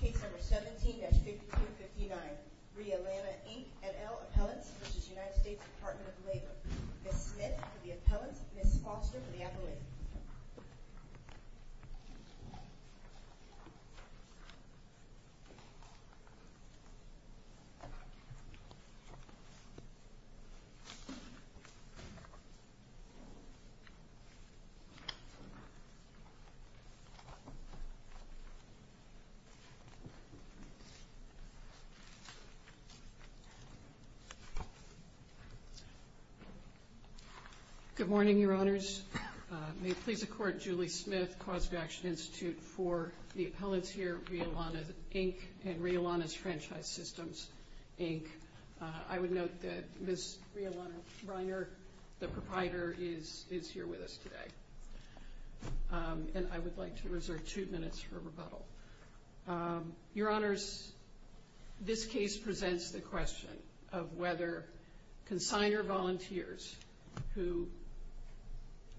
Case number 17-5259. Rhea Lana, Inc. NL Appellants v. United States Department of Labor Ms. Smith for the appellants, Ms. Foster for the appellate. Good morning, Your Honors. May it please the Court, Julie Smith, Cause of Action Institute for the Appellants here, Rhea Lana, Inc., and Rhea Lana's Franchise Systems, Inc. I would note that Ms. Rhea Lana Reiner, the proprietor, is here with us today. And I would like to reserve two minutes for rebuttal. Your Honors, this case presents the question of whether consignor volunteers who...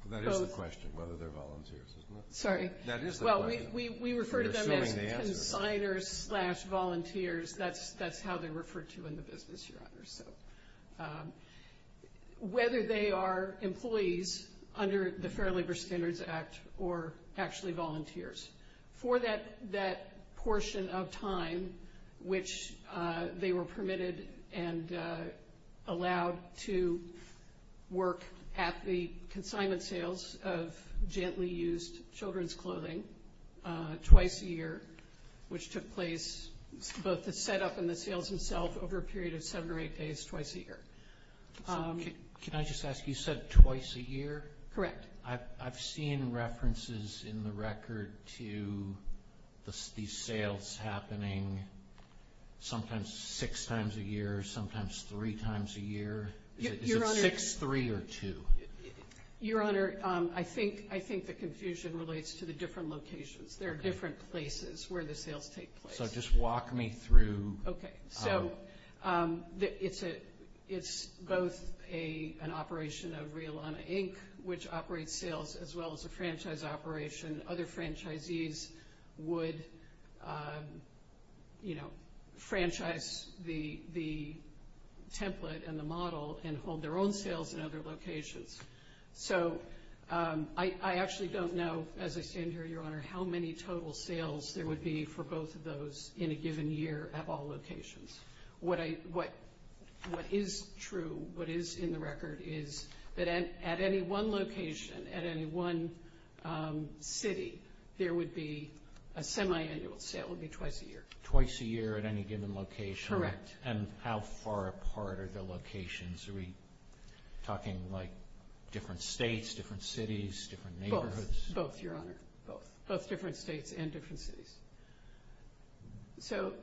That is the question, whether they're volunteers, isn't it? Sorry. That is the question. Well, we refer to them as consignors slash volunteers. Whether they are employees under the Fair Labor Standards Act or actually volunteers. For that portion of time which they were permitted and allowed to work at the consignment sales of gently used children's clothing twice a year, which took place both the setup and the sales themselves over a period of seven or eight days twice a year. Can I just ask, you said twice a year? Correct. I've seen references in the record to these sales happening sometimes six times a year, sometimes three times a year. Is it six, three, or two? Your Honor, I think the confusion relates to the different locations. There are different places where the sales take place. Just walk me through. Okay. It's both an operation of Realana, Inc., which operates sales as well as a franchise operation. Other franchisees would franchise the template and the model and hold their own sales in other locations. I actually don't know, as I stand here, Your Honor, how many total sales there would be for both of those in a given year at all locations. What is true, what is in the record is that at any one location, at any one city, there would be a semi-annual sale. It would be twice a year. Twice a year at any given location? Correct. And how far apart are the locations? Are we talking like different states, different cities, different neighborhoods? Both, Your Honor. Both. Both different states and different cities. So,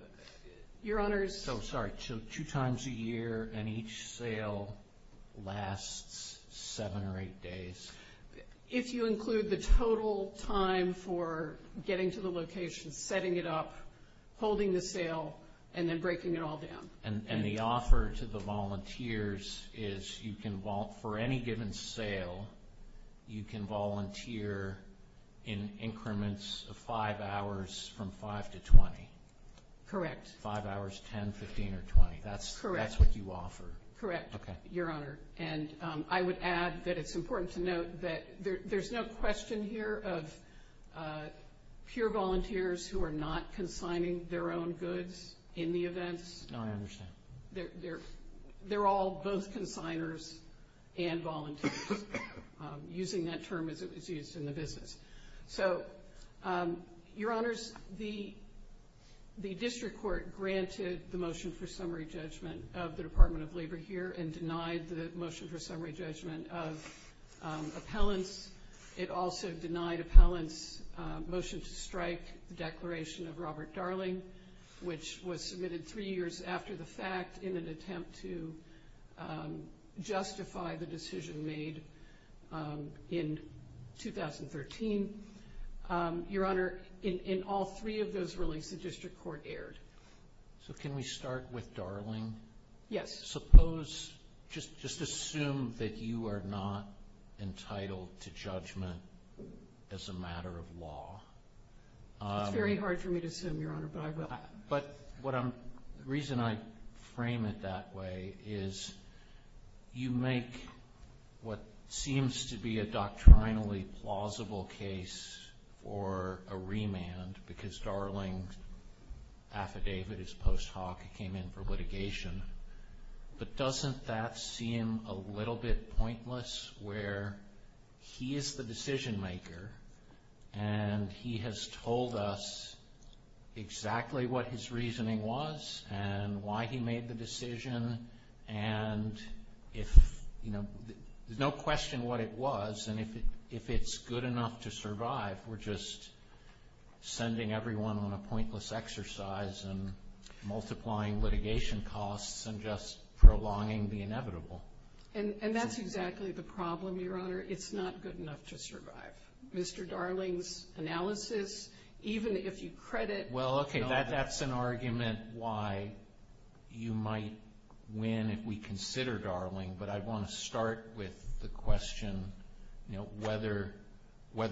Your Honors. So, sorry, two times a year and each sale lasts seven or eight days? If you include the total time for getting to the location, setting it up, holding the sale, and then breaking it all down. And the offer to the volunteers is you can, for any given sale, you can volunteer in increments of five hours from five to 20? Correct. Five hours, 10, 15, or 20? That's what you offer? Correct, Your Honor. And I would add that it's important to note that there's no question here of pure volunteers who are not consigning their own goods in the events. No, I understand. They're all both consignors and volunteers, using that term as it was used in the business. So, Your Honors, the district court granted the motion for summary judgment of the Department of Labor here and denied the motion for summary judgment of appellants. It also denied appellants' motion to strike the declaration of Robert Darling, which was submitted three years after the fact in an attempt to justify the decision made in 2013. Your Honor, in all three of those rulings, the district court erred. So can we start with Darling? Yes. Suppose, just assume that you are not entitled to judgment as a matter of law. It's very hard for me to assume, Your Honor, but I will. But the reason I frame it that way is you make what seems to be a doctrinally plausible case for a remand because Darling's affidavit, his post hoc, came in for litigation. But doesn't that seem a little bit pointless where he is the decision maker and he has told us exactly what his reasoning was and why he made the decision? And if, you know, there's no question what it was, and if it's good enough to survive, we're just sending everyone on a pointless exercise and multiplying litigation costs and just prolonging the inevitable. And that's exactly the problem, Your Honor. It's not good enough to survive. Mr. Darling's analysis, even if you credit— Well, okay, that's an argument why you might win if we consider Darling, but I want to start with the question, you know, whether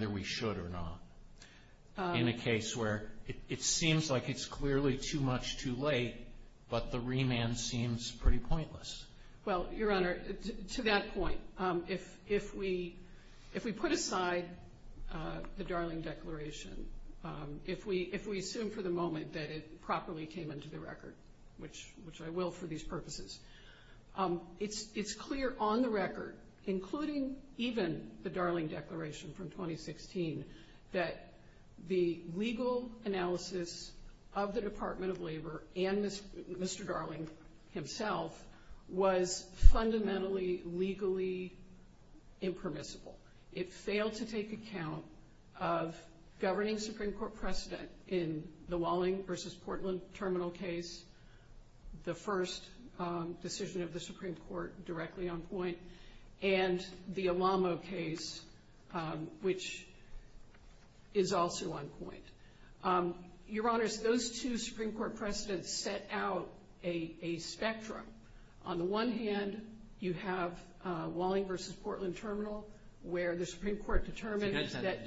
we should or not, in a case where it seems like it's clearly too much too late, but the remand seems pretty pointless. Well, Your Honor, to that point, if we put aside the Darling declaration, if we assume for the moment that it properly came into the record, which I will for these purposes, it's clear on the record, including even the Darling declaration from 2016, that the legal analysis of the Department of Labor and Mr. Darling himself was fundamentally legally impermissible. It failed to take account of governing Supreme Court precedent in the Walling v. Portland terminal case, the first decision of the Supreme Court directly on point, and the Alamo case, which is also on point. Your Honors, those two Supreme Court precedents set out a spectrum. On the one hand, you have Walling v. Portland terminal, where the Supreme Court determined that—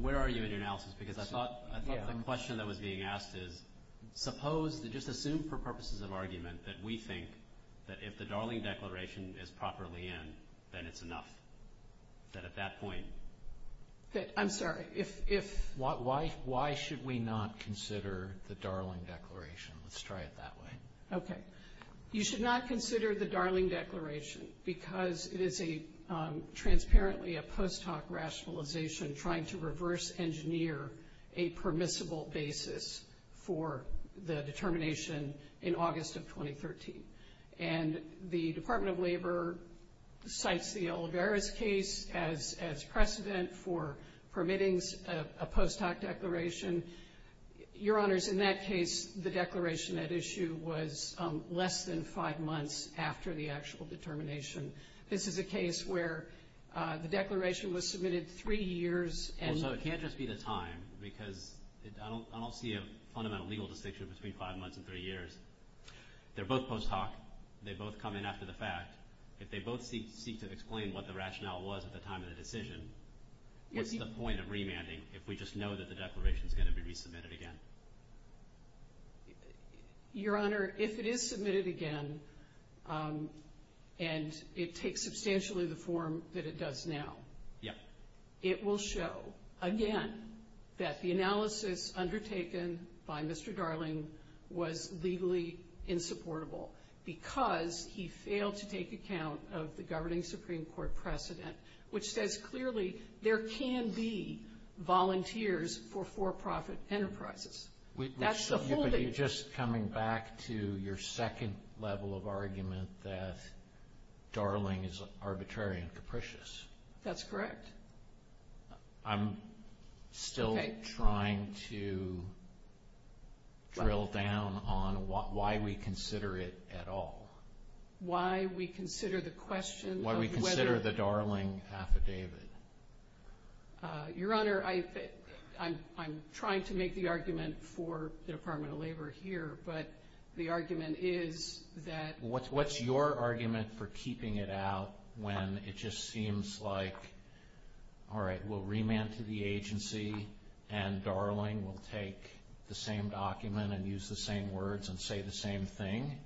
Where are you in your analysis? Because I thought the question that was being asked is, suppose, just assume for purposes of argument, that we think that if the Darling declaration is properly in, then it's enough. That at that point— I'm sorry, if— Why should we not consider the Darling declaration? Let's try it that way. Okay. You should not consider the Darling declaration because it is transparently a post hoc rationalization trying to reverse engineer a permissible basis for the determination in August of 2013. And the Department of Labor cites the Olivares case as precedent for permitting a post hoc declaration. Your Honors, in that case, the declaration at issue was less than five months after the actual determination. This is a case where the declaration was submitted three years and— So it can't just be the time because I don't see a fundamental legal distinction between five months and three years. They're both post hoc. They both come in after the fact. If they both seek to explain what the rationale was at the time of the decision, what's the point of remanding if we just know that the declaration is going to be resubmitted again? Your Honor, if it is submitted again and it takes substantially the form that it does now, it will show, again, that the analysis undertaken by Mr. Darling was legally insupportable because he failed to take account of the governing Supreme Court precedent, which says clearly there can be volunteers for for-profit enterprises. That's the whole— But you're just coming back to your second level of argument that Darling is arbitrary and capricious. That's correct. I'm still trying to drill down on why we consider it at all. Why we consider the question of whether— Your Honor, I'm trying to make the argument for the Department of Labor here, but the argument is that— What's your argument for keeping it out when it just seems like, all right, we'll remand to the agency and Darling will take the same document and use the same words and say the same thing?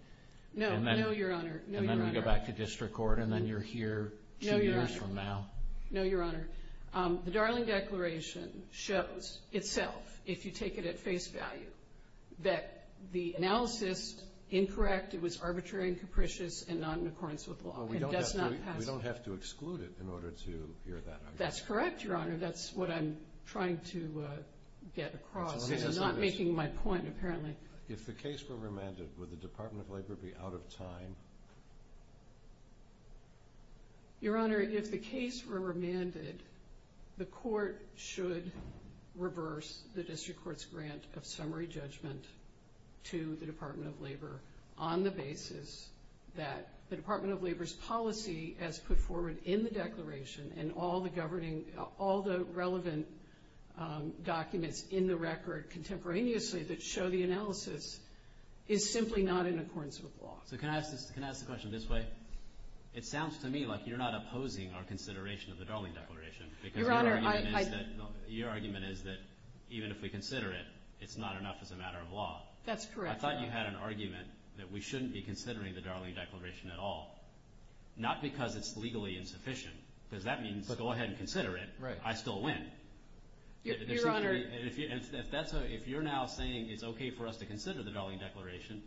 No, no, Your Honor. And then we go back to district court and then you're here two years from now? No, Your Honor. The Darling Declaration shows itself, if you take it at face value, that the analysis, incorrect, it was arbitrary and capricious and not in accordance with law. It does not pass. We don't have to exclude it in order to hear that argument. That's correct, Your Honor. That's what I'm trying to get across. I'm not making my point, apparently. If the case were remanded, would the Department of Labor be out of time? Your Honor, if the case were remanded, the court should reverse the district court's grant of summary judgment to the Department of Labor on the basis that the Department of Labor's policy as put forward in the declaration and all the relevant documents in the record contemporaneously that show the analysis is simply not in accordance with law. So can I ask the question this way? It sounds to me like you're not opposing our consideration of the Darling Declaration because your argument is that even if we consider it, it's not enough as a matter of law. That's correct, Your Honor. I thought you had an argument that we shouldn't be considering the Darling Declaration at all, not because it's legally insufficient, because that means go ahead and consider it. I still win. Your Honor. If you're now saying it's okay for us to consider the Darling Declaration,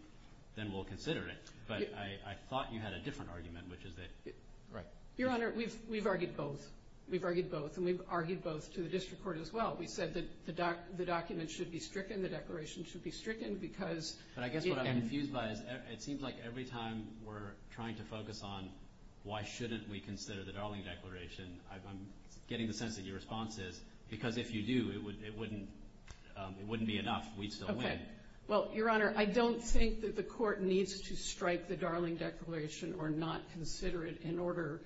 then we'll consider it. But I thought you had a different argument, which is that… Your Honor, we've argued both. We've argued both, and we've argued both to the district court as well. We said that the document should be stricken, the declaration should be stricken because… But I guess what I'm confused by is it seems like every time we're trying to focus on why shouldn't we consider the Darling Declaration, I'm getting the sense that your response is because if you do, it wouldn't be enough. We'd still win. Well, Your Honor, I don't think that the court needs to strike the Darling Declaration or not consider it in order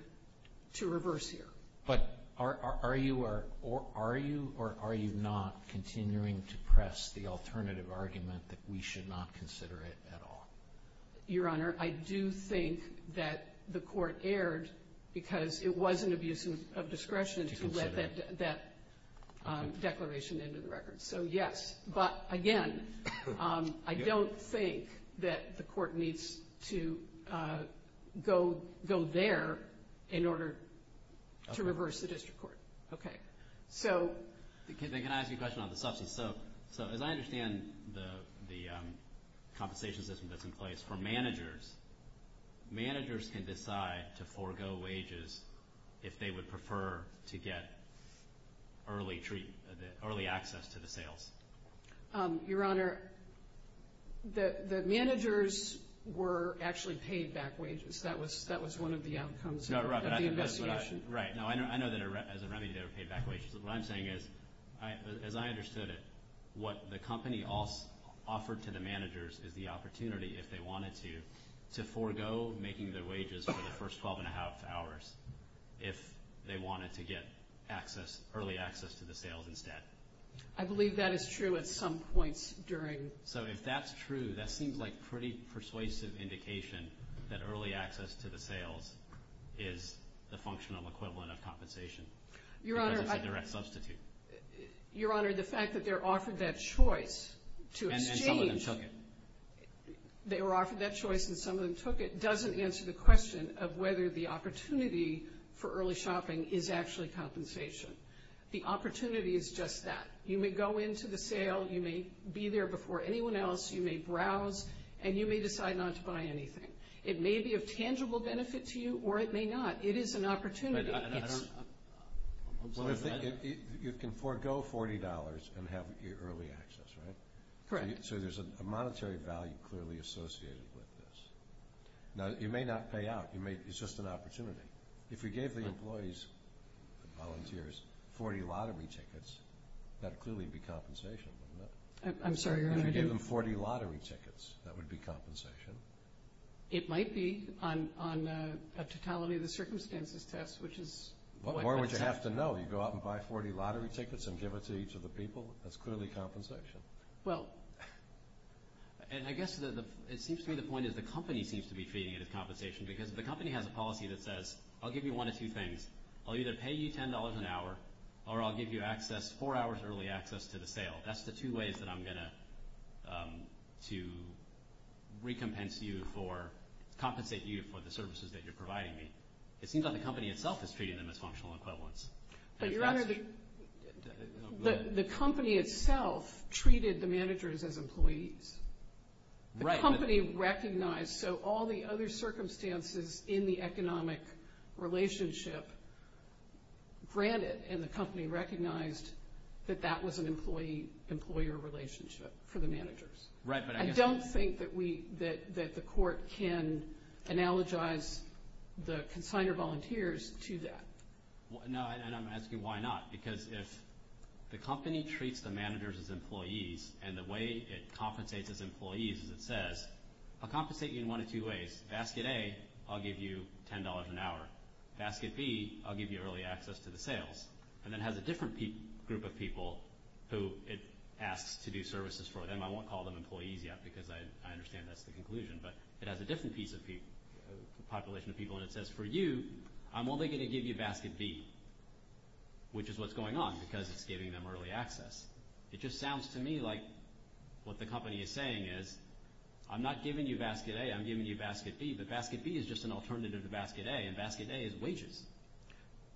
to reverse here. But are you or are you not continuing to press the alternative argument that we should not consider it at all? Your Honor, I do think that the court erred because it was an abuse of discretion to let that declaration into the record. So, yes. But, again, I don't think that the court needs to go there in order to reverse the district court. Okay. Can I ask you a question on the subsidies? So as I understand the compensation system that's in place for managers, managers can decide to forego wages if they would prefer to get early access to the sales. Your Honor, the managers were actually paid back wages. That was one of the outcomes of the investigation. Right. I know that as a remedy they were paid back wages. What I'm saying is, as I understood it, what the company offered to the managers is the opportunity if they wanted to, to forego making their wages for the first 12 and a half hours if they wanted to get early access to the sales instead. I believe that is true at some points during. So if that's true, that seems like a pretty persuasive indication that early access to the sales is the functional equivalent of compensation because it's a direct substitute. Your Honor, the fact that they're offered that choice to exchange. And some of them took it. They were offered that choice and some of them took it doesn't answer the question of whether the opportunity for early shopping is actually compensation. The opportunity is just that. You may go into the sale, you may be there before anyone else, you may browse, and you may decide not to buy anything. It may be of tangible benefit to you or it may not. It is an opportunity. I don't. You can forego $40 and have early access, right? Correct. So there's a monetary value clearly associated with this. Now, you may not pay out. It's just an opportunity. If you gave the employees, the volunteers, 40 lottery tickets, that would clearly be compensation, wouldn't it? I'm sorry, Your Honor. If you gave them 40 lottery tickets, that would be compensation. It might be on a totality of the circumstances test, which is what that says. What more would you have to know? You go out and buy 40 lottery tickets and give it to each of the people? That's clearly compensation. Well, and I guess it seems to me the point is the company seems to be treating it as compensation because the company has a policy that says I'll give you one of two things. I'll either pay you $10 an hour or I'll give you access, four hours early access to the sale. That's the two ways that I'm going to recompense you for, compensate you for the services that you're providing me. It seems like the company itself is treating them as functional equivalents. But, Your Honor, the company itself treated the managers as employees. The company recognized, so all the other circumstances in the economic relationship granted, and the company recognized that that was an employee-employer relationship for the managers. I don't think that the court can analogize the consignor volunteers to that. No, and I'm asking why not, because if the company treats the managers as employees and the way it compensates its employees is it says, I'll compensate you in one of two ways. Basket A, I'll give you $10 an hour. Basket B, I'll give you early access to the sales. And it has a different group of people who it asks to do services for them. I won't call them employees yet because I understand that's the conclusion. But it has a different population of people, and it says, for you, I'm only going to give you Basket B, which is what's going on because it's giving them early access. It just sounds to me like what the company is saying is I'm not giving you Basket A, I'm giving you Basket B, but Basket B is just an alternative to Basket A, and Basket A is wages.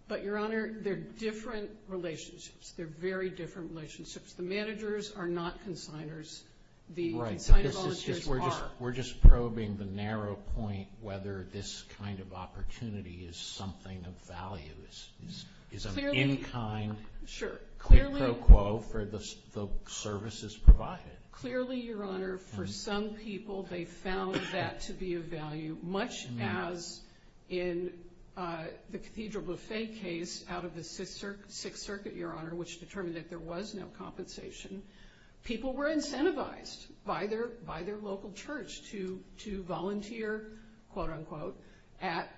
But, Your Honor, they're different relationships. They're very different relationships. The managers are not consignors. The consignor volunteers are. We're just probing the narrow point whether this kind of opportunity is something of value, is an in-kind quid pro quo for the services provided. Clearly, Your Honor, for some people they found that to be of value, much as in the Cathedral Buffet case out of the Sixth Circuit, Your Honor, which determined that there was no compensation, people were incentivized by their local church to volunteer, quote, unquote, at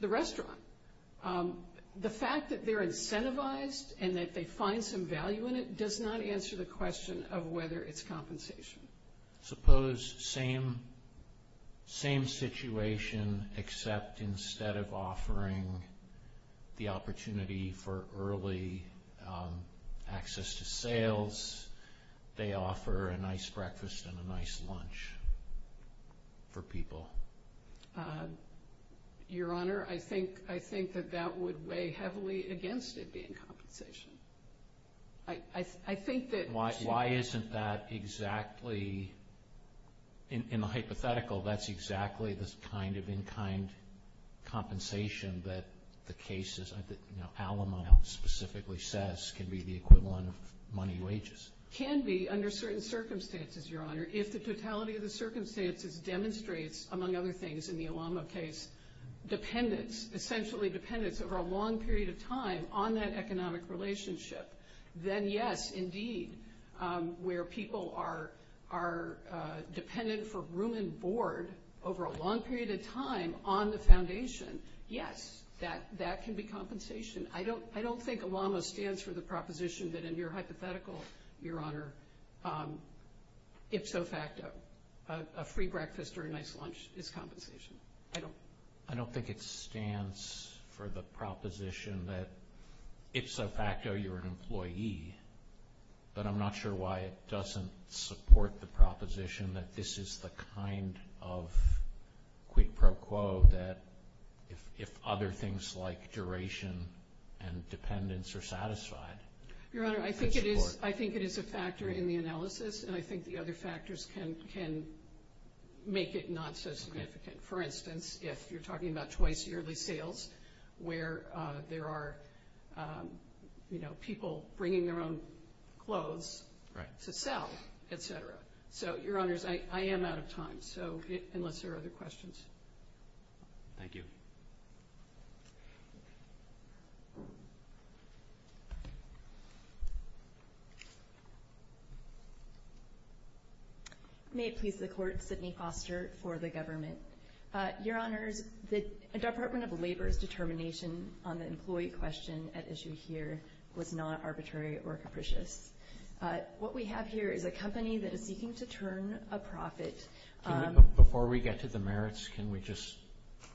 the restaurant. The fact that they're incentivized and that they find some value in it does not answer the question of whether it's compensation. Suppose same situation except instead of offering the opportunity for early access to sales, they offer a nice breakfast and a nice lunch for people. Your Honor, I think that that would weigh heavily against it being compensation. I think that... Why isn't that exactly, in the hypothetical, that's exactly the kind of in-kind compensation that the cases, that Alamo specifically says can be the equivalent of money wages? Can be under certain circumstances, Your Honor, if the totality of the circumstances demonstrates, among other things in the Alamo case, dependence, essentially dependence over a long period of time on that economic relationship, then yes, indeed, where people are dependent for room and board over a long period of time on the foundation, yes, that can be compensation. I don't think Alamo stands for the proposition that in your hypothetical, Your Honor, ipso facto, a free breakfast or a nice lunch is compensation. I don't think it stands for the proposition that ipso facto, you're an employee, but I'm not sure why it doesn't support the proposition that this is the kind of quid pro quo that if other things like duration and dependence are satisfied. Your Honor, I think it is a factor in the analysis, and I think the other factors can make it not so significant. For instance, if you're talking about twice yearly sales, where there are people bringing their own clothes to sell, et cetera. So, Your Honors, I am out of time, unless there are other questions. Thank you. May it please the Court, Sydney Foster for the government. Your Honors, the Department of Labor's determination on the employee question at issue here was not arbitrary or capricious. What we have here is a company that is seeking to turn a profit. Before we get to the merits, can we just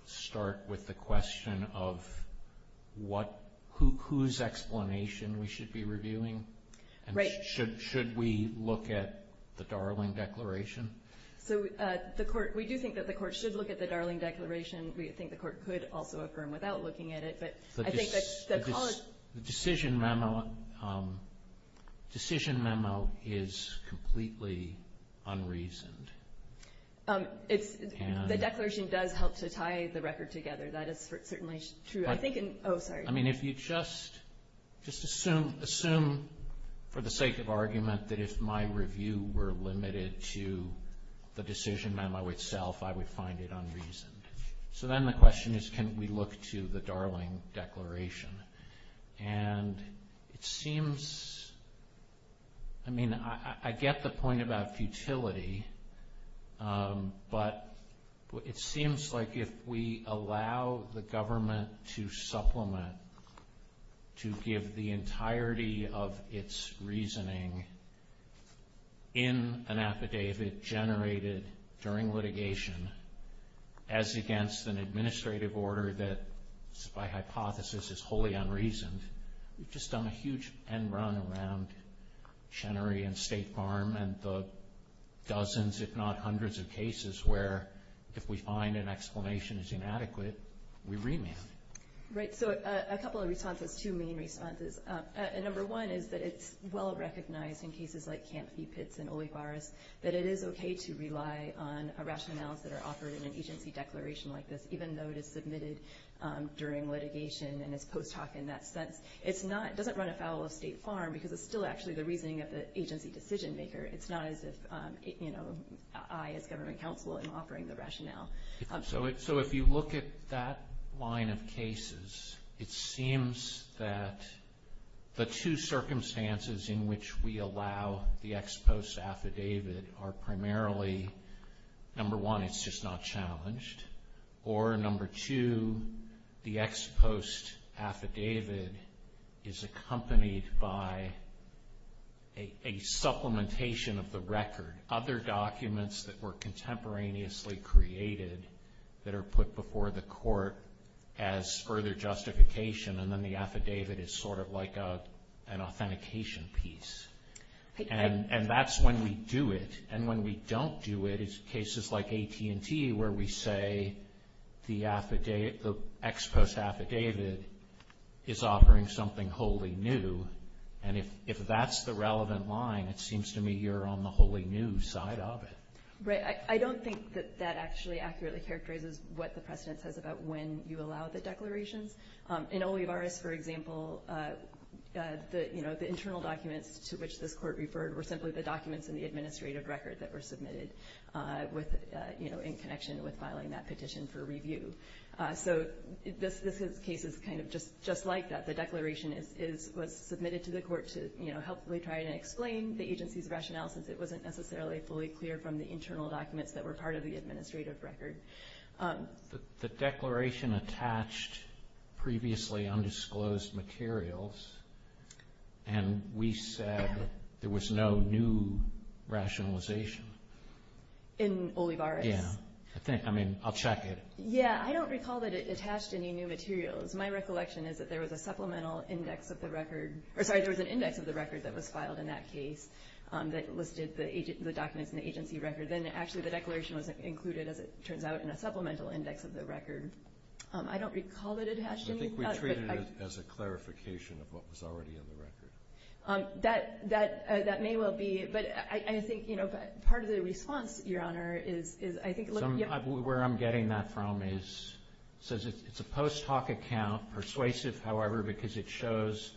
start with the question of whose explanation we should be reviewing? Right. Should we look at the Darling Declaration? So, we do think that the Court should look at the Darling Declaration. We think the Court could also affirm without looking at it. The decision memo is completely unreasoned. The declaration does help to tie the record together. That is certainly true. I mean, if you just assume, for the sake of argument, that if my review were limited to the decision memo itself, I would find it unreasoned. So, then the question is, can we look to the Darling Declaration? And it seems, I mean, I get the point about futility, but it seems like if we allow the government to supplement, to give the entirety of its reasoning in an affidavit generated during litigation, as against an administrative order that, by hypothesis, is wholly unreasoned, we've just done a huge end run around Chenery and State Farm and the dozens, if not hundreds, of cases where if we find an explanation is inadequate, we remand. Right, so a couple of responses, two main responses. Number one is that it's well recognized in cases like Camp V-Pitts and Olivares that it is okay to rely on rationales that are offered in an agency declaration like this, even though it is submitted during litigation and is post hoc in that sense. It doesn't run afoul of State Farm because it's still actually the reasoning of the agency decision maker. It's not as if I, as government counsel, am offering the rationale. So if you look at that line of cases, it seems that the two circumstances in which we allow the ex post affidavit are primarily, number one, it's just not challenged, or number two, the ex post affidavit is accompanied by a supplementation of the record. Other documents that were contemporaneously created that are put before the court as further justification and then the affidavit is sort of like an authentication piece. And that's when we do it. And when we don't do it, it's cases like AT&T where we say the ex post affidavit is offering something wholly new. And if that's the relevant line, it seems to me you're on the wholly new side of it. Right. I don't think that actually accurately characterizes what the precedent says about when you allow the declarations. In Olivares, for example, the internal documents to which this court referred were simply the documents in the administrative record that were submitted in connection with filing that petition for review. So this case is kind of just like that. The declaration was submitted to the court to helpfully try to explain the agency's rationale since it wasn't necessarily fully clear from the internal documents that were part of the administrative record. The declaration attached previously undisclosed materials and we said there was no new rationalization. In Olivares. Yeah. I mean, I'll check it. Yeah. I don't recall that it attached any new materials. My recollection is that there was a supplemental index of the record. Or sorry, there was an index of the record that was filed in that case that listed the documents in the agency record. Then actually the declaration was included, as it turns out, in a supplemental index of the record. I don't recall that it attached any. I think we treated it as a clarification of what was already in the record. That may well be. But I think, you know, part of the response, Your Honor, is I think. Where I'm getting that from is it says it's a post hoc account, persuasive, however, because it shows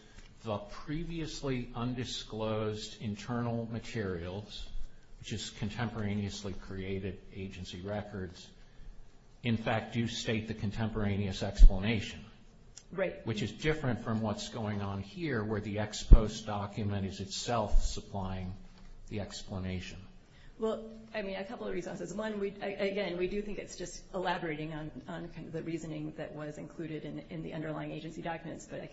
the previously undisclosed internal materials, which is contemporaneously created agency records, in fact do state the contemporaneous explanation. Right. Which is different from what's going on here where the ex post document is itself supplying the explanation. Well, I mean, a couple of reasons. One, again, we do think it's just elaborating on kind of the reasoning that was included in the underlying agency documents. But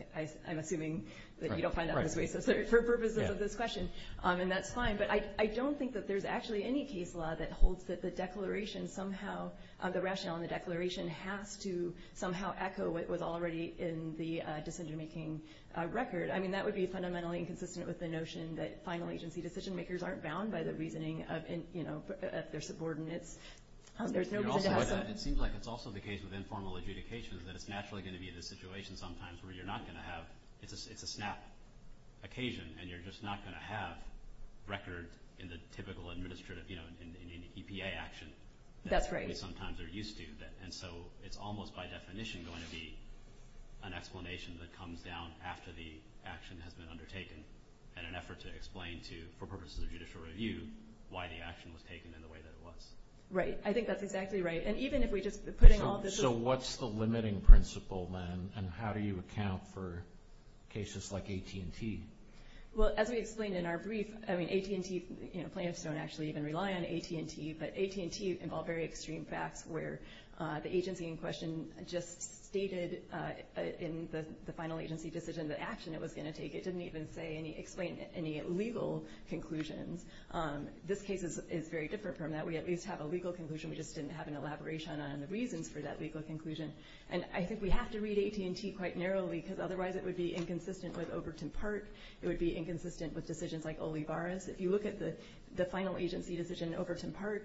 I'm assuming that you don't find that on this basis for purposes of this question. And that's fine. But I don't think that there's actually any case law that holds that the declaration somehow, the rationale in the declaration has to somehow echo what was already in the decision-making record. I mean, that would be fundamentally inconsistent with the notion that final agency decision-makers aren't bound by the reasoning of their subordinates. There's no reason to have some. It seems like it's also the case with informal adjudications that it's naturally going to be the situation sometimes where you're not going to have – it's a snap occasion and you're just not going to have record in the typical administrative, you know, in EPA action. That's right. That we sometimes are used to. And so it's almost by definition going to be an explanation that comes down after the action has been undertaken in an effort to explain to, for purposes of judicial review, why the action was taken in the way that it was. Right. I think that's exactly right. And even if we just put in all this. So what's the limiting principle, then? And how do you account for cases like AT&T? Well, as we explained in our brief, I mean, AT&T, you know, plaintiffs don't actually even rely on AT&T. But AT&T involved very extreme facts where the agency in question just stated in the final agency decision the action it was going to take. It didn't even explain any legal conclusions. This case is very different from that. We at least have a legal conclusion. We just didn't have an elaboration on the reasons for that legal conclusion. And I think we have to read AT&T quite narrowly because otherwise it would be inconsistent with Overton Park. It would be inconsistent with decisions like Olivares. If you look at the final agency decision in Overton Park,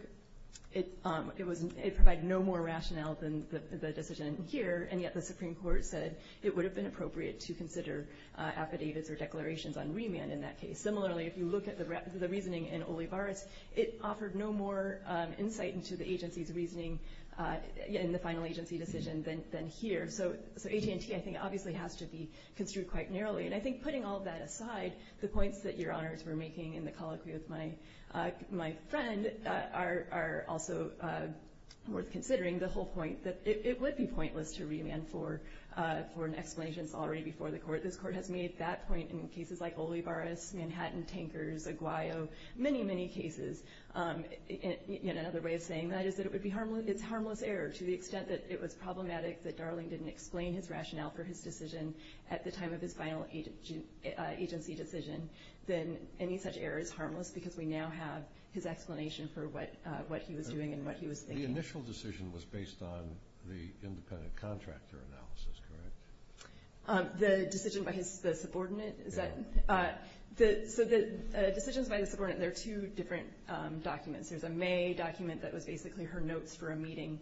it provided no more rationale than the decision here. And yet the Supreme Court said it would have been appropriate to consider affidavits or declarations on remand in that case. Similarly, if you look at the reasoning in Olivares, it offered no more insight into the agency's reasoning in the final agency decision than here. So AT&T, I think, obviously has to be construed quite narrowly. And I think putting all that aside, the points that Your Honors were making in the colloquy with my friend are also worth considering. The whole point that it would be pointless to remand for an explanation that's already before the court. This court has made that point in cases like Olivares, Manhattan, Tankers, Aguayo, many, many cases. Another way of saying that is that it's harmless error. To the extent that it was problematic that Darling didn't explain his rationale for his decision at the time of his final agency decision, then any such error is harmless because we now have his explanation for what he was doing and what he was thinking. The initial decision was based on the independent contractor analysis, correct? The decision by the subordinate? So the decisions by the subordinate, there are two different documents. There's a May document that was basically her notes for a meeting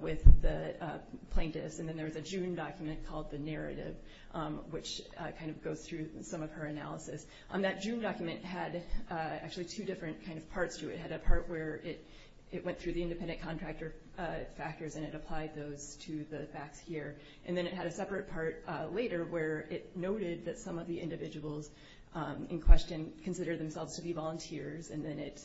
with the plaintiffs. And then there was a June document called the narrative, which kind of goes through some of her analysis. That June document had actually two different kind of parts to it. It had a part where it went through the independent contractor factors and it applied those to the facts here. And then it had a separate part later where it noted that some of the individuals in question considered themselves to be volunteers. And then it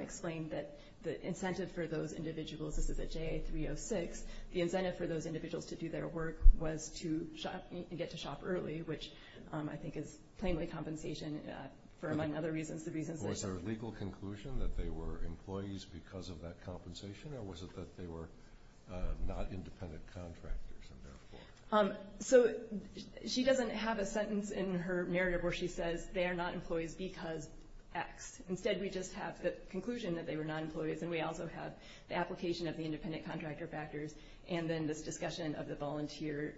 explained that the incentive for those individuals, this is at JA 306, the incentive for those individuals to do their work was to get to shop early, which I think is plainly compensation for, among other reasons. Was there a legal conclusion that they were employees because of that compensation? Or was it that they were not independent contractors? So she doesn't have a sentence in her narrative where she says they are not employees because X. And then this discussion of the volunteer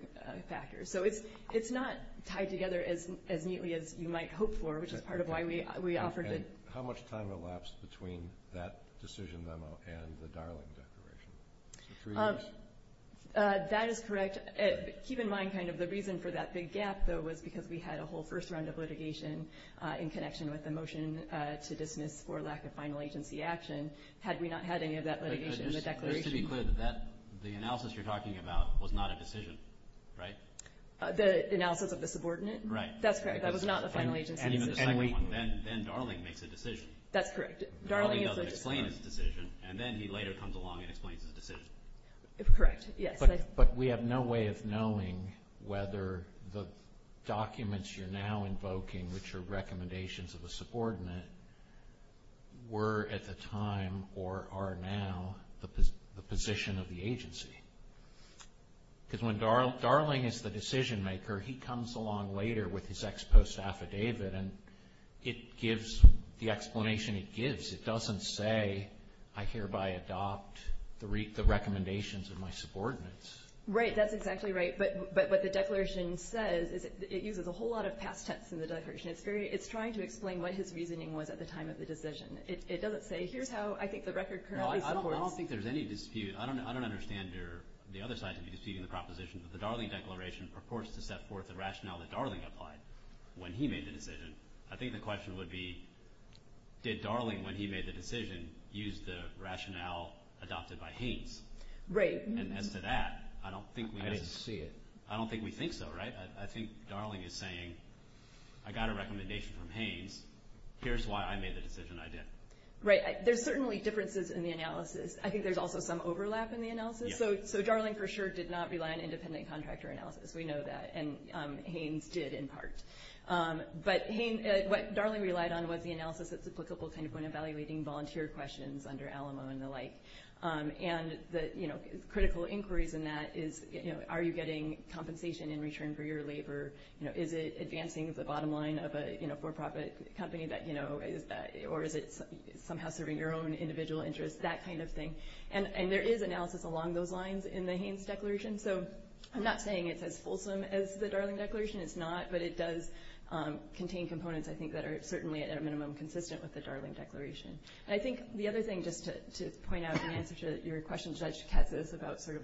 factors. So it's not tied together as neatly as you might hope for, which is part of why we offered it. How much time elapsed between that decision memo and the Darling declaration? Three years? That is correct. Keep in mind kind of the reason for that big gap, though, was because we had a whole first round of litigation in connection with the motion to dismiss for lack of final agency action. Had we not had any of that litigation in the declaration. Just to be clear, the analysis you're talking about was not a decision, right? The analysis of the subordinate? Right. That's correct. That was not the final agency decision. Then Darling makes a decision. That's correct. Darling doesn't explain his decision, and then he later comes along and explains his decision. Correct, yes. But we have no way of knowing whether the documents you're now invoking, which are recommendations of a subordinate, were at the time or are now the position of the agency. Because when Darling is the decision maker, he comes along later with his ex post affidavit, and it gives the explanation it gives. It doesn't say, I hereby adopt the recommendations of my subordinates. Right. That's exactly right. But what the declaration says is it uses a whole lot of past tense in the declaration. It's trying to explain what his reasoning was at the time of the decision. It doesn't say, here's how I think the record currently supports. I don't think there's any dispute. I don't understand the other side to be disputing the proposition that the Darling declaration purports to set forth the rationale that Darling applied when he made the decision. I think the question would be, did Darling, when he made the decision, use the rationale adopted by Haynes? Right. And as to that, I don't think we know. I don't see it. I don't think we think so, right? I think Darling is saying, I got a recommendation from Haynes. Here's why I made the decision I did. Right. There's certainly differences in the analysis. I think there's also some overlap in the analysis. So Darling for sure did not rely on independent contractor analysis. We know that. And Haynes did in part. But what Darling relied on was the analysis that's applicable when evaluating volunteer questions under Alamo and the like. And the critical inquiries in that is, are you getting compensation in return for your labor? Is it advancing the bottom line of a for-profit company? Or is it somehow serving your own individual interests? That kind of thing. And there is analysis along those lines in the Haynes declaration. So I'm not saying it's as fulsome as the Darling declaration. It's not, but it does contain components, I think, that are certainly at a minimum consistent with the Darling declaration. And I think the other thing, just to point out in answer to your question, Judge Katz, is about sort of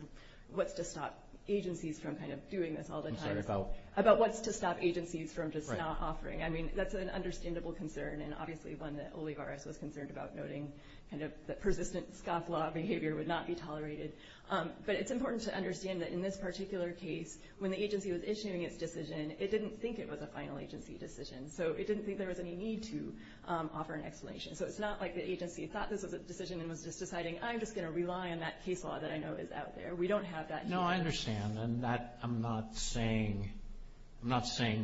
what's to stop agencies from kind of doing this all the time. I'm sorry, about? About what's to stop agencies from just not offering. Right. I mean, that's an understandable concern and obviously one that Olivares was concerned about, noting kind of that persistent scofflaw behavior would not be tolerated. But it's important to understand that in this particular case, when the agency was issuing its decision, it didn't think it was a final agency decision. So it didn't think there was any need to offer an explanation. So it's not like the agency thought this was a decision and was just deciding, I'm just going to rely on that case law that I know is out there. We don't have that here. No, I understand. And I'm not saying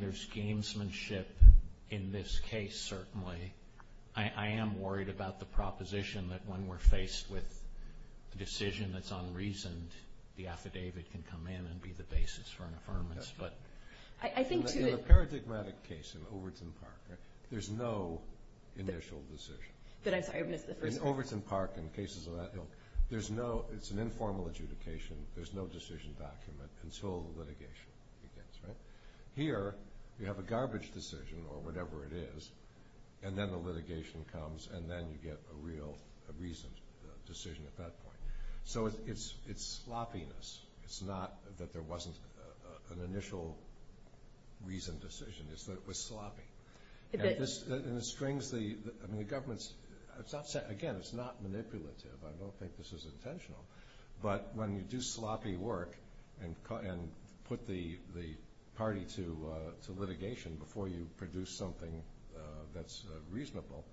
there's gamesmanship in this case, certainly. I am worried about the proposition that when we're faced with a decision that's unreasoned, the affidavit can come in and be the basis for an affirmance. In a paradigmatic case in Overton Park, there's no initial decision. I'm sorry, I missed the first part. In Overton Park and cases of that ilk, it's an informal adjudication, there's no decision document until the litigation begins. Here, you have a garbage decision or whatever it is, and then the litigation comes, and then you get a real reasoned decision at that point. So it's sloppiness. It's not that there wasn't an initial reasoned decision. It's that it was sloppy. And it strings the government's – again, it's not manipulative. I don't think this is intentional. But when you do sloppy work and put the party to litigation before you produce something that's reasonable,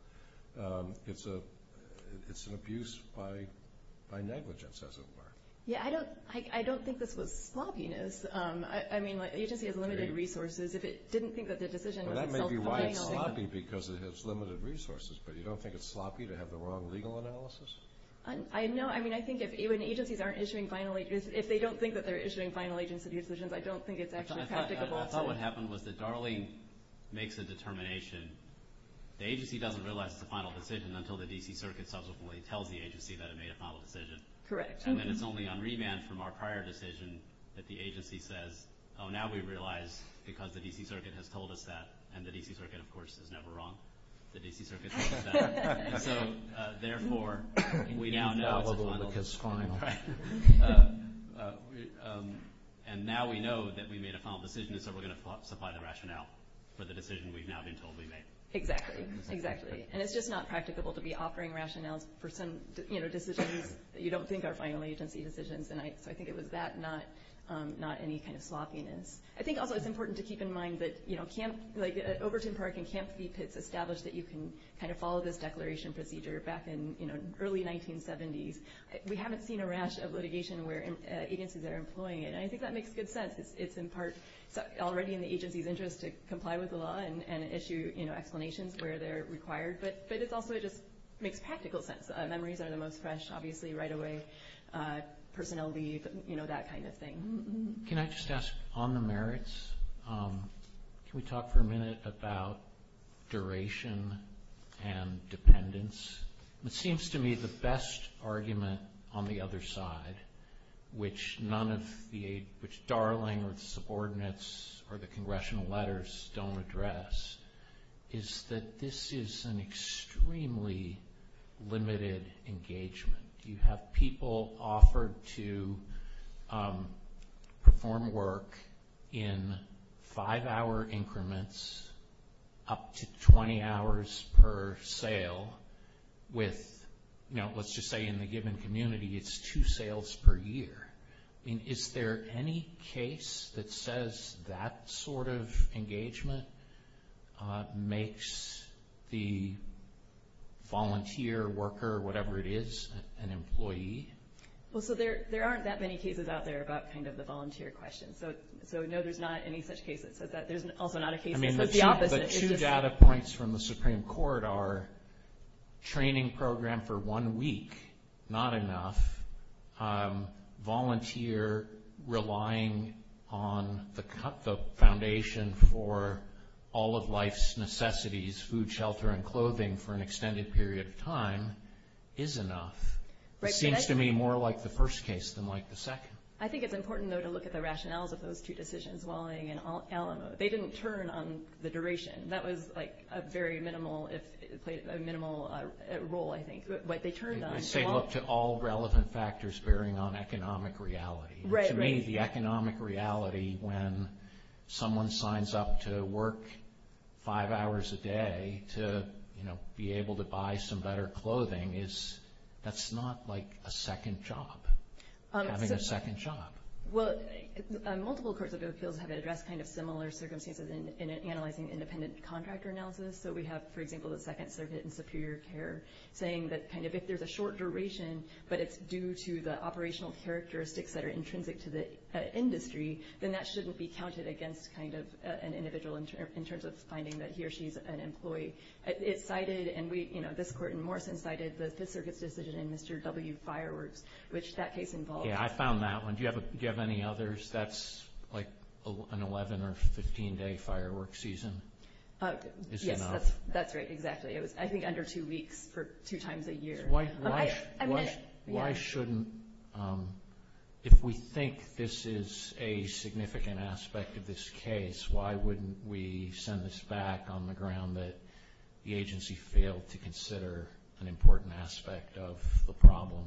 it's an abuse by negligence, as it were. Yeah, I don't think this was sloppiness. I mean, an agency has limited resources. If it didn't think that the decision was itself a bailout. That may be why it's sloppy, because it has limited resources. But you don't think it's sloppy to have the wrong legal analysis? I know. I mean, I think if agencies aren't issuing final – if they don't think that they're issuing final agency decisions, I don't think it's actually practicable. I thought what happened was that Darling makes a determination. The agency doesn't realize it's a final decision until the D.C. Circuit subsequently tells the agency that it made a final decision. Correct. And then it's only on remand from our prior decision that the agency says, oh, now we realize because the D.C. Circuit has told us that. And the D.C. Circuit, of course, is never wrong. The D.C. Circuit tells us that. And so, therefore, we now know it's a final. And now we know that we made a final decision, and so we're going to supply the rationale for the decision we've now been told we made. Exactly. Exactly. And it's just not practicable to be offering rationales for some decisions that you don't think are final agency decisions. And so I think it was that, not any kind of sloppiness. I think also it's important to keep in mind that, you know, back in, you know, early 1970s, we haven't seen a rash of litigation where agencies are employing it. And I think that makes good sense. It's in part already in the agency's interest to comply with the law and issue, you know, explanations where they're required. But it also just makes practical sense. Memories are the most fresh, obviously, right away. Personnel leave, you know, that kind of thing. Can I just ask, on the merits, can we talk for a minute about duration and dependence? It seems to me the best argument on the other side, which none of the – which Darling or the subordinates or the congressional letters don't address, is that this is an extremely limited engagement. You have people offered to perform work in five-hour increments, up to 20 hours per sale with, you know, let's just say in the given community it's two sales per year. I mean, is there any case that says that sort of engagement makes the volunteer, worker, whatever it is, an employee? Well, so there aren't that many cases out there about kind of the volunteer question. So, no, there's not any such case that says that. There's also not a case that says the opposite. I mean, the two data points from the Supreme Court are training program for one week, not enough. Volunteer relying on the foundation for all of life's necessities, food, shelter, and clothing for an extended period of time is enough. It seems to me more like the first case than like the second. I think it's important, though, to look at the rationales of those two decisions, Walling and Alamo. They didn't turn on the duration. That was like a very minimal – it played a minimal role, I think, what they turned on. I say look to all relevant factors bearing on economic reality. Right, right. To me, the economic reality when someone signs up to work five hours a day to, you know, be able to buy some better clothing is – that's not like a second job, having a second job. Well, multiple courts of appeals have addressed kind of similar circumstances in analyzing independent contractor analysis. So we have, for example, the Second Circuit in Superior Care saying that kind of if there's a short duration, but it's due to the operational characteristics that are intrinsic to the industry, then that shouldn't be counted against kind of an individual in terms of finding that he or she is an employee. It cited – and we, you know, this court in Morrison cited the Fifth Circuit's decision in Mr. W. Fireworks, which that case involved – Yeah, I found that one. Do you have any others? That's like an 11- or 15-day firework season is enough. Yes, that's right, exactly. It was, I think, under two weeks for two times a year. Why shouldn't – if we think this is a significant aspect of this case, why wouldn't we send this back on the ground that the agency failed to consider an important aspect of the problem?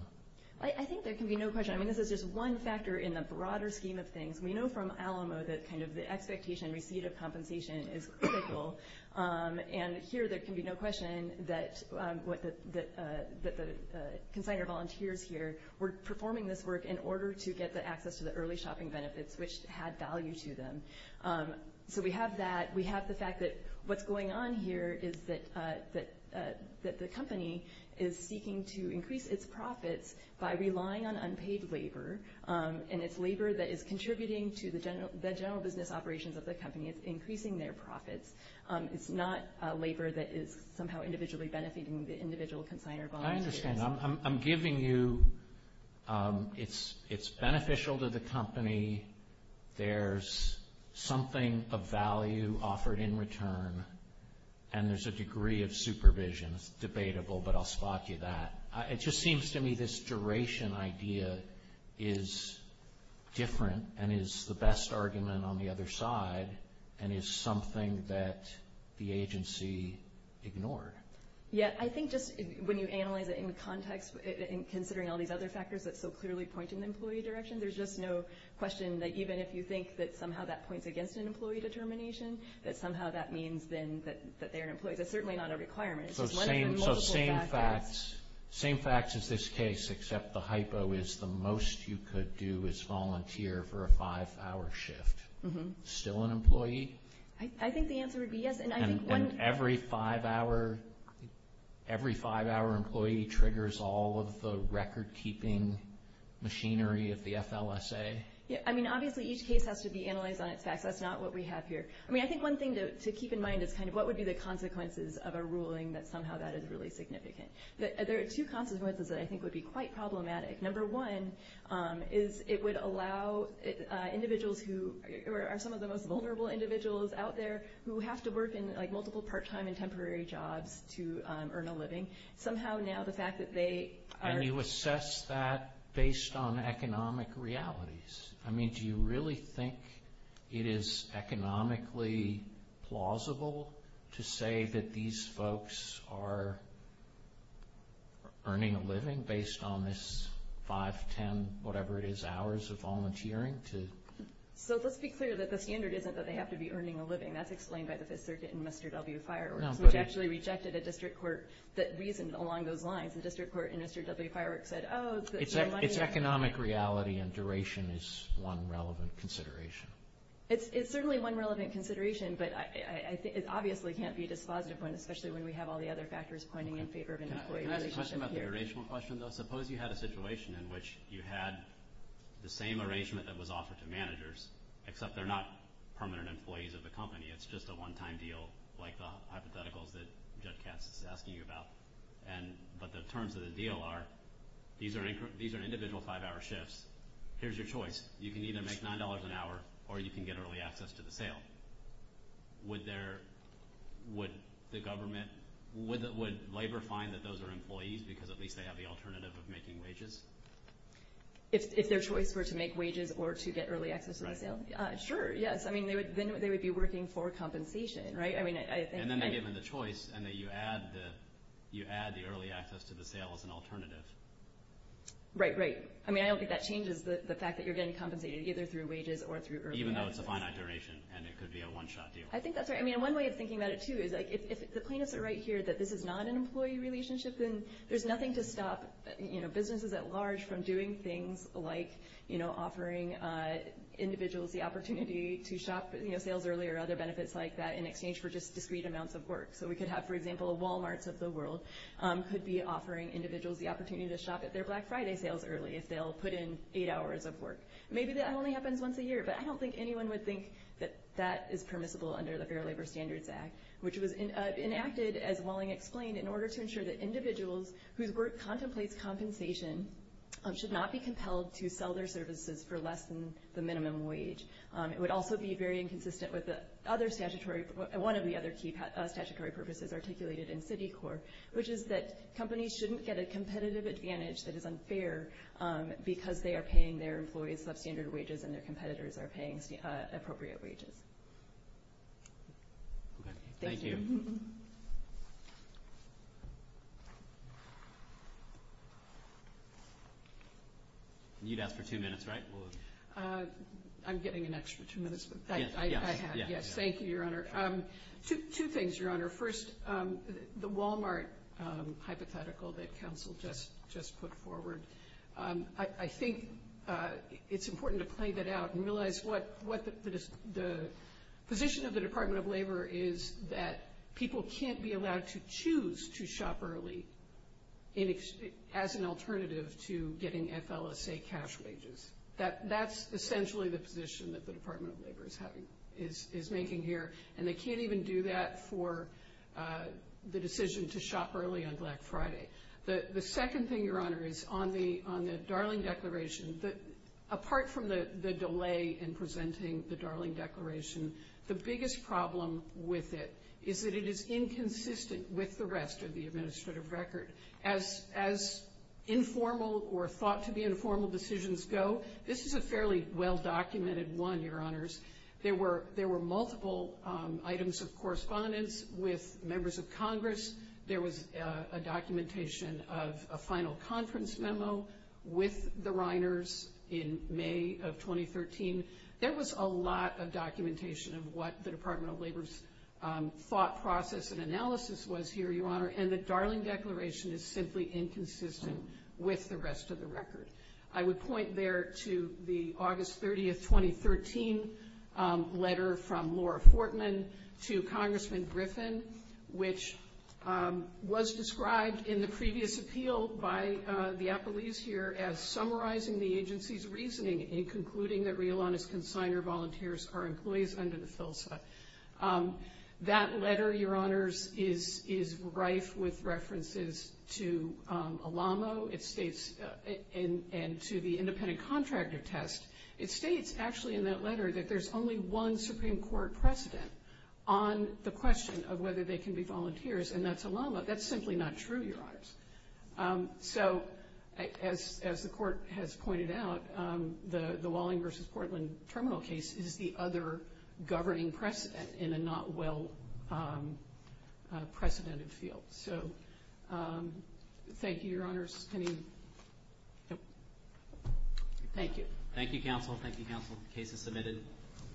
I think there can be no question. I mean, this is just one factor in the broader scheme of things. We know from Alamo that kind of the expectation and receipt of compensation is critical. And here there can be no question that the consignor volunteers here were performing this work in order to get the access to the early shopping benefits, which had value to them. So we have that. We have the fact that what's going on here is that the company is seeking to increase its profits by relying on unpaid labor, and it's labor that is contributing to the general business operations of the company. It's increasing their profits. It's not labor that is somehow individually benefiting the individual consigner volunteers. I understand. I'm giving you it's beneficial to the company, there's something of value offered in return, and there's a degree of supervision. It's debatable, but I'll spot you that. It just seems to me this duration idea is different and is the best argument on the other side and is something that the agency ignored. Yeah, I think just when you analyze it in context and considering all these other factors that so clearly point in the employee direction, there's just no question that even if you think that somehow that points against an employee determination, that somehow that means then that they're an employee. That's certainly not a requirement. So same facts as this case except the hypo is the most you could do is volunteer for a five-hour shift. Still an employee? I think the answer would be yes. And every five-hour employee triggers all of the record-keeping machinery of the FLSA? I mean, obviously each case has to be analyzed on its facts. That's not what we have here. I mean, I think one thing to keep in mind is kind of what would be the consequences of a ruling that somehow that is really significant. There are two consequences that I think would be quite problematic. Number one is it would allow individuals who are some of the most vulnerable individuals out there who have to work in multiple part-time and temporary jobs to earn a living. Somehow now the fact that they are- And you assess that based on economic realities. I mean, do you really think it is economically plausible to say that these folks are earning a living based on this five, ten, whatever it is, hours of volunteering? So let's be clear that the standard isn't that they have to be earning a living. That's explained by the Fifth Circuit in Mr. W. Fireworks, which actually rejected a district court that reasoned along those lines. The district court in Mr. W. Fireworks said, oh, it's good for your money. It's economic reality and duration is one relevant consideration. It's certainly one relevant consideration, but it obviously can't be a dispositive one, especially when we have all the other factors pointing in favor of an employee relationship here. Can I ask a question about the duration question, though? Suppose you had a situation in which you had the same arrangement that was offered to managers, except they're not permanent employees of the company. It's just a one-time deal like the hypotheticals that Judge Katz is asking you about. But the terms of the deal are these are individual five-hour shifts. Here's your choice. You can either make $9 an hour or you can get early access to the sale. Would the government, would labor find that those are employees because at least they have the alternative of making wages? If their choice were to make wages or to get early access to the sale? Sure, yes. Then they would be working for compensation, right? And then they're given the choice and you add the early access to the sale as an alternative. Right, right. I don't think that changes the fact that you're getting compensated either through wages or through early access. Even though it's a finite duration and it could be a one-shot deal. I think that's right. One way of thinking about it, too, is if the plaintiffs are right here that this is not an employee relationship, then there's nothing to stop businesses at large from doing things like offering individuals the opportunity to shop sales early or other benefits like that in exchange for just discrete amounts of work. So we could have, for example, Walmarts of the world could be offering individuals the opportunity to shop at their Black Friday sales early if they'll put in eight hours of work. Maybe that only happens once a year, but I don't think anyone would think that that is permissible under the Fair Labor Standards Act, which was enacted, as Welling explained, in order to ensure that individuals whose work contemplates compensation should not be compelled to sell their services for less than the minimum wage. It would also be very inconsistent with one of the other key statutory purposes articulated in Citicorp, which is that companies shouldn't get a competitive advantage that is unfair because they are paying their employees substandard wages and their competitors are paying appropriate wages. Thank you. You'd ask for two minutes, right? I'm getting an extra two minutes, but I have. Thank you, Your Honor. Two things, Your Honor. First, the Walmart hypothetical that counsel just put forward, I think it's important to play that out and realize what the position of the Department of Labor is that people can't be allowed to choose to shop early as an alternative to getting FLSA cash wages. That's essentially the position that the Department of Labor is making here, and they can't even do that for the decision to shop early on Black Friday. The second thing, Your Honor, is on the Darling Declaration, apart from the delay in presenting the Darling Declaration, the biggest problem with it is that it is inconsistent with the rest of the administrative record. As informal or thought to be informal decisions go, this is a fairly well-documented one, Your Honors. There were multiple items of correspondence with members of Congress. There was a documentation of a final conference memo with the Reiners in May of 2013. There was a lot of documentation of what the Department of Labor's thought process and analysis was here, Your Honor, and the Darling Declaration is simply inconsistent with the rest of the record. I would point there to the August 30th, 2013 letter from Laura Fortman to Congressman Griffin, which was described in the previous appeal by the appellees here as summarizing the agency's reasoning in concluding that real honest consignor volunteers are employees under the FILSA. That letter, Your Honors, is rife with references to ALAMO and to the independent contractor test. It states actually in that letter that there's only one Supreme Court precedent on the question of whether they can be volunteers, and that's ALAMO. That's simply not true, Your Honors. So, as the Court has pointed out, the Walling v. Portland terminal case is the other governing precedent in a not well-precedented field. So, thank you, Your Honors. Thank you. Thank you, counsel. Thank you, counsel. The case is submitted.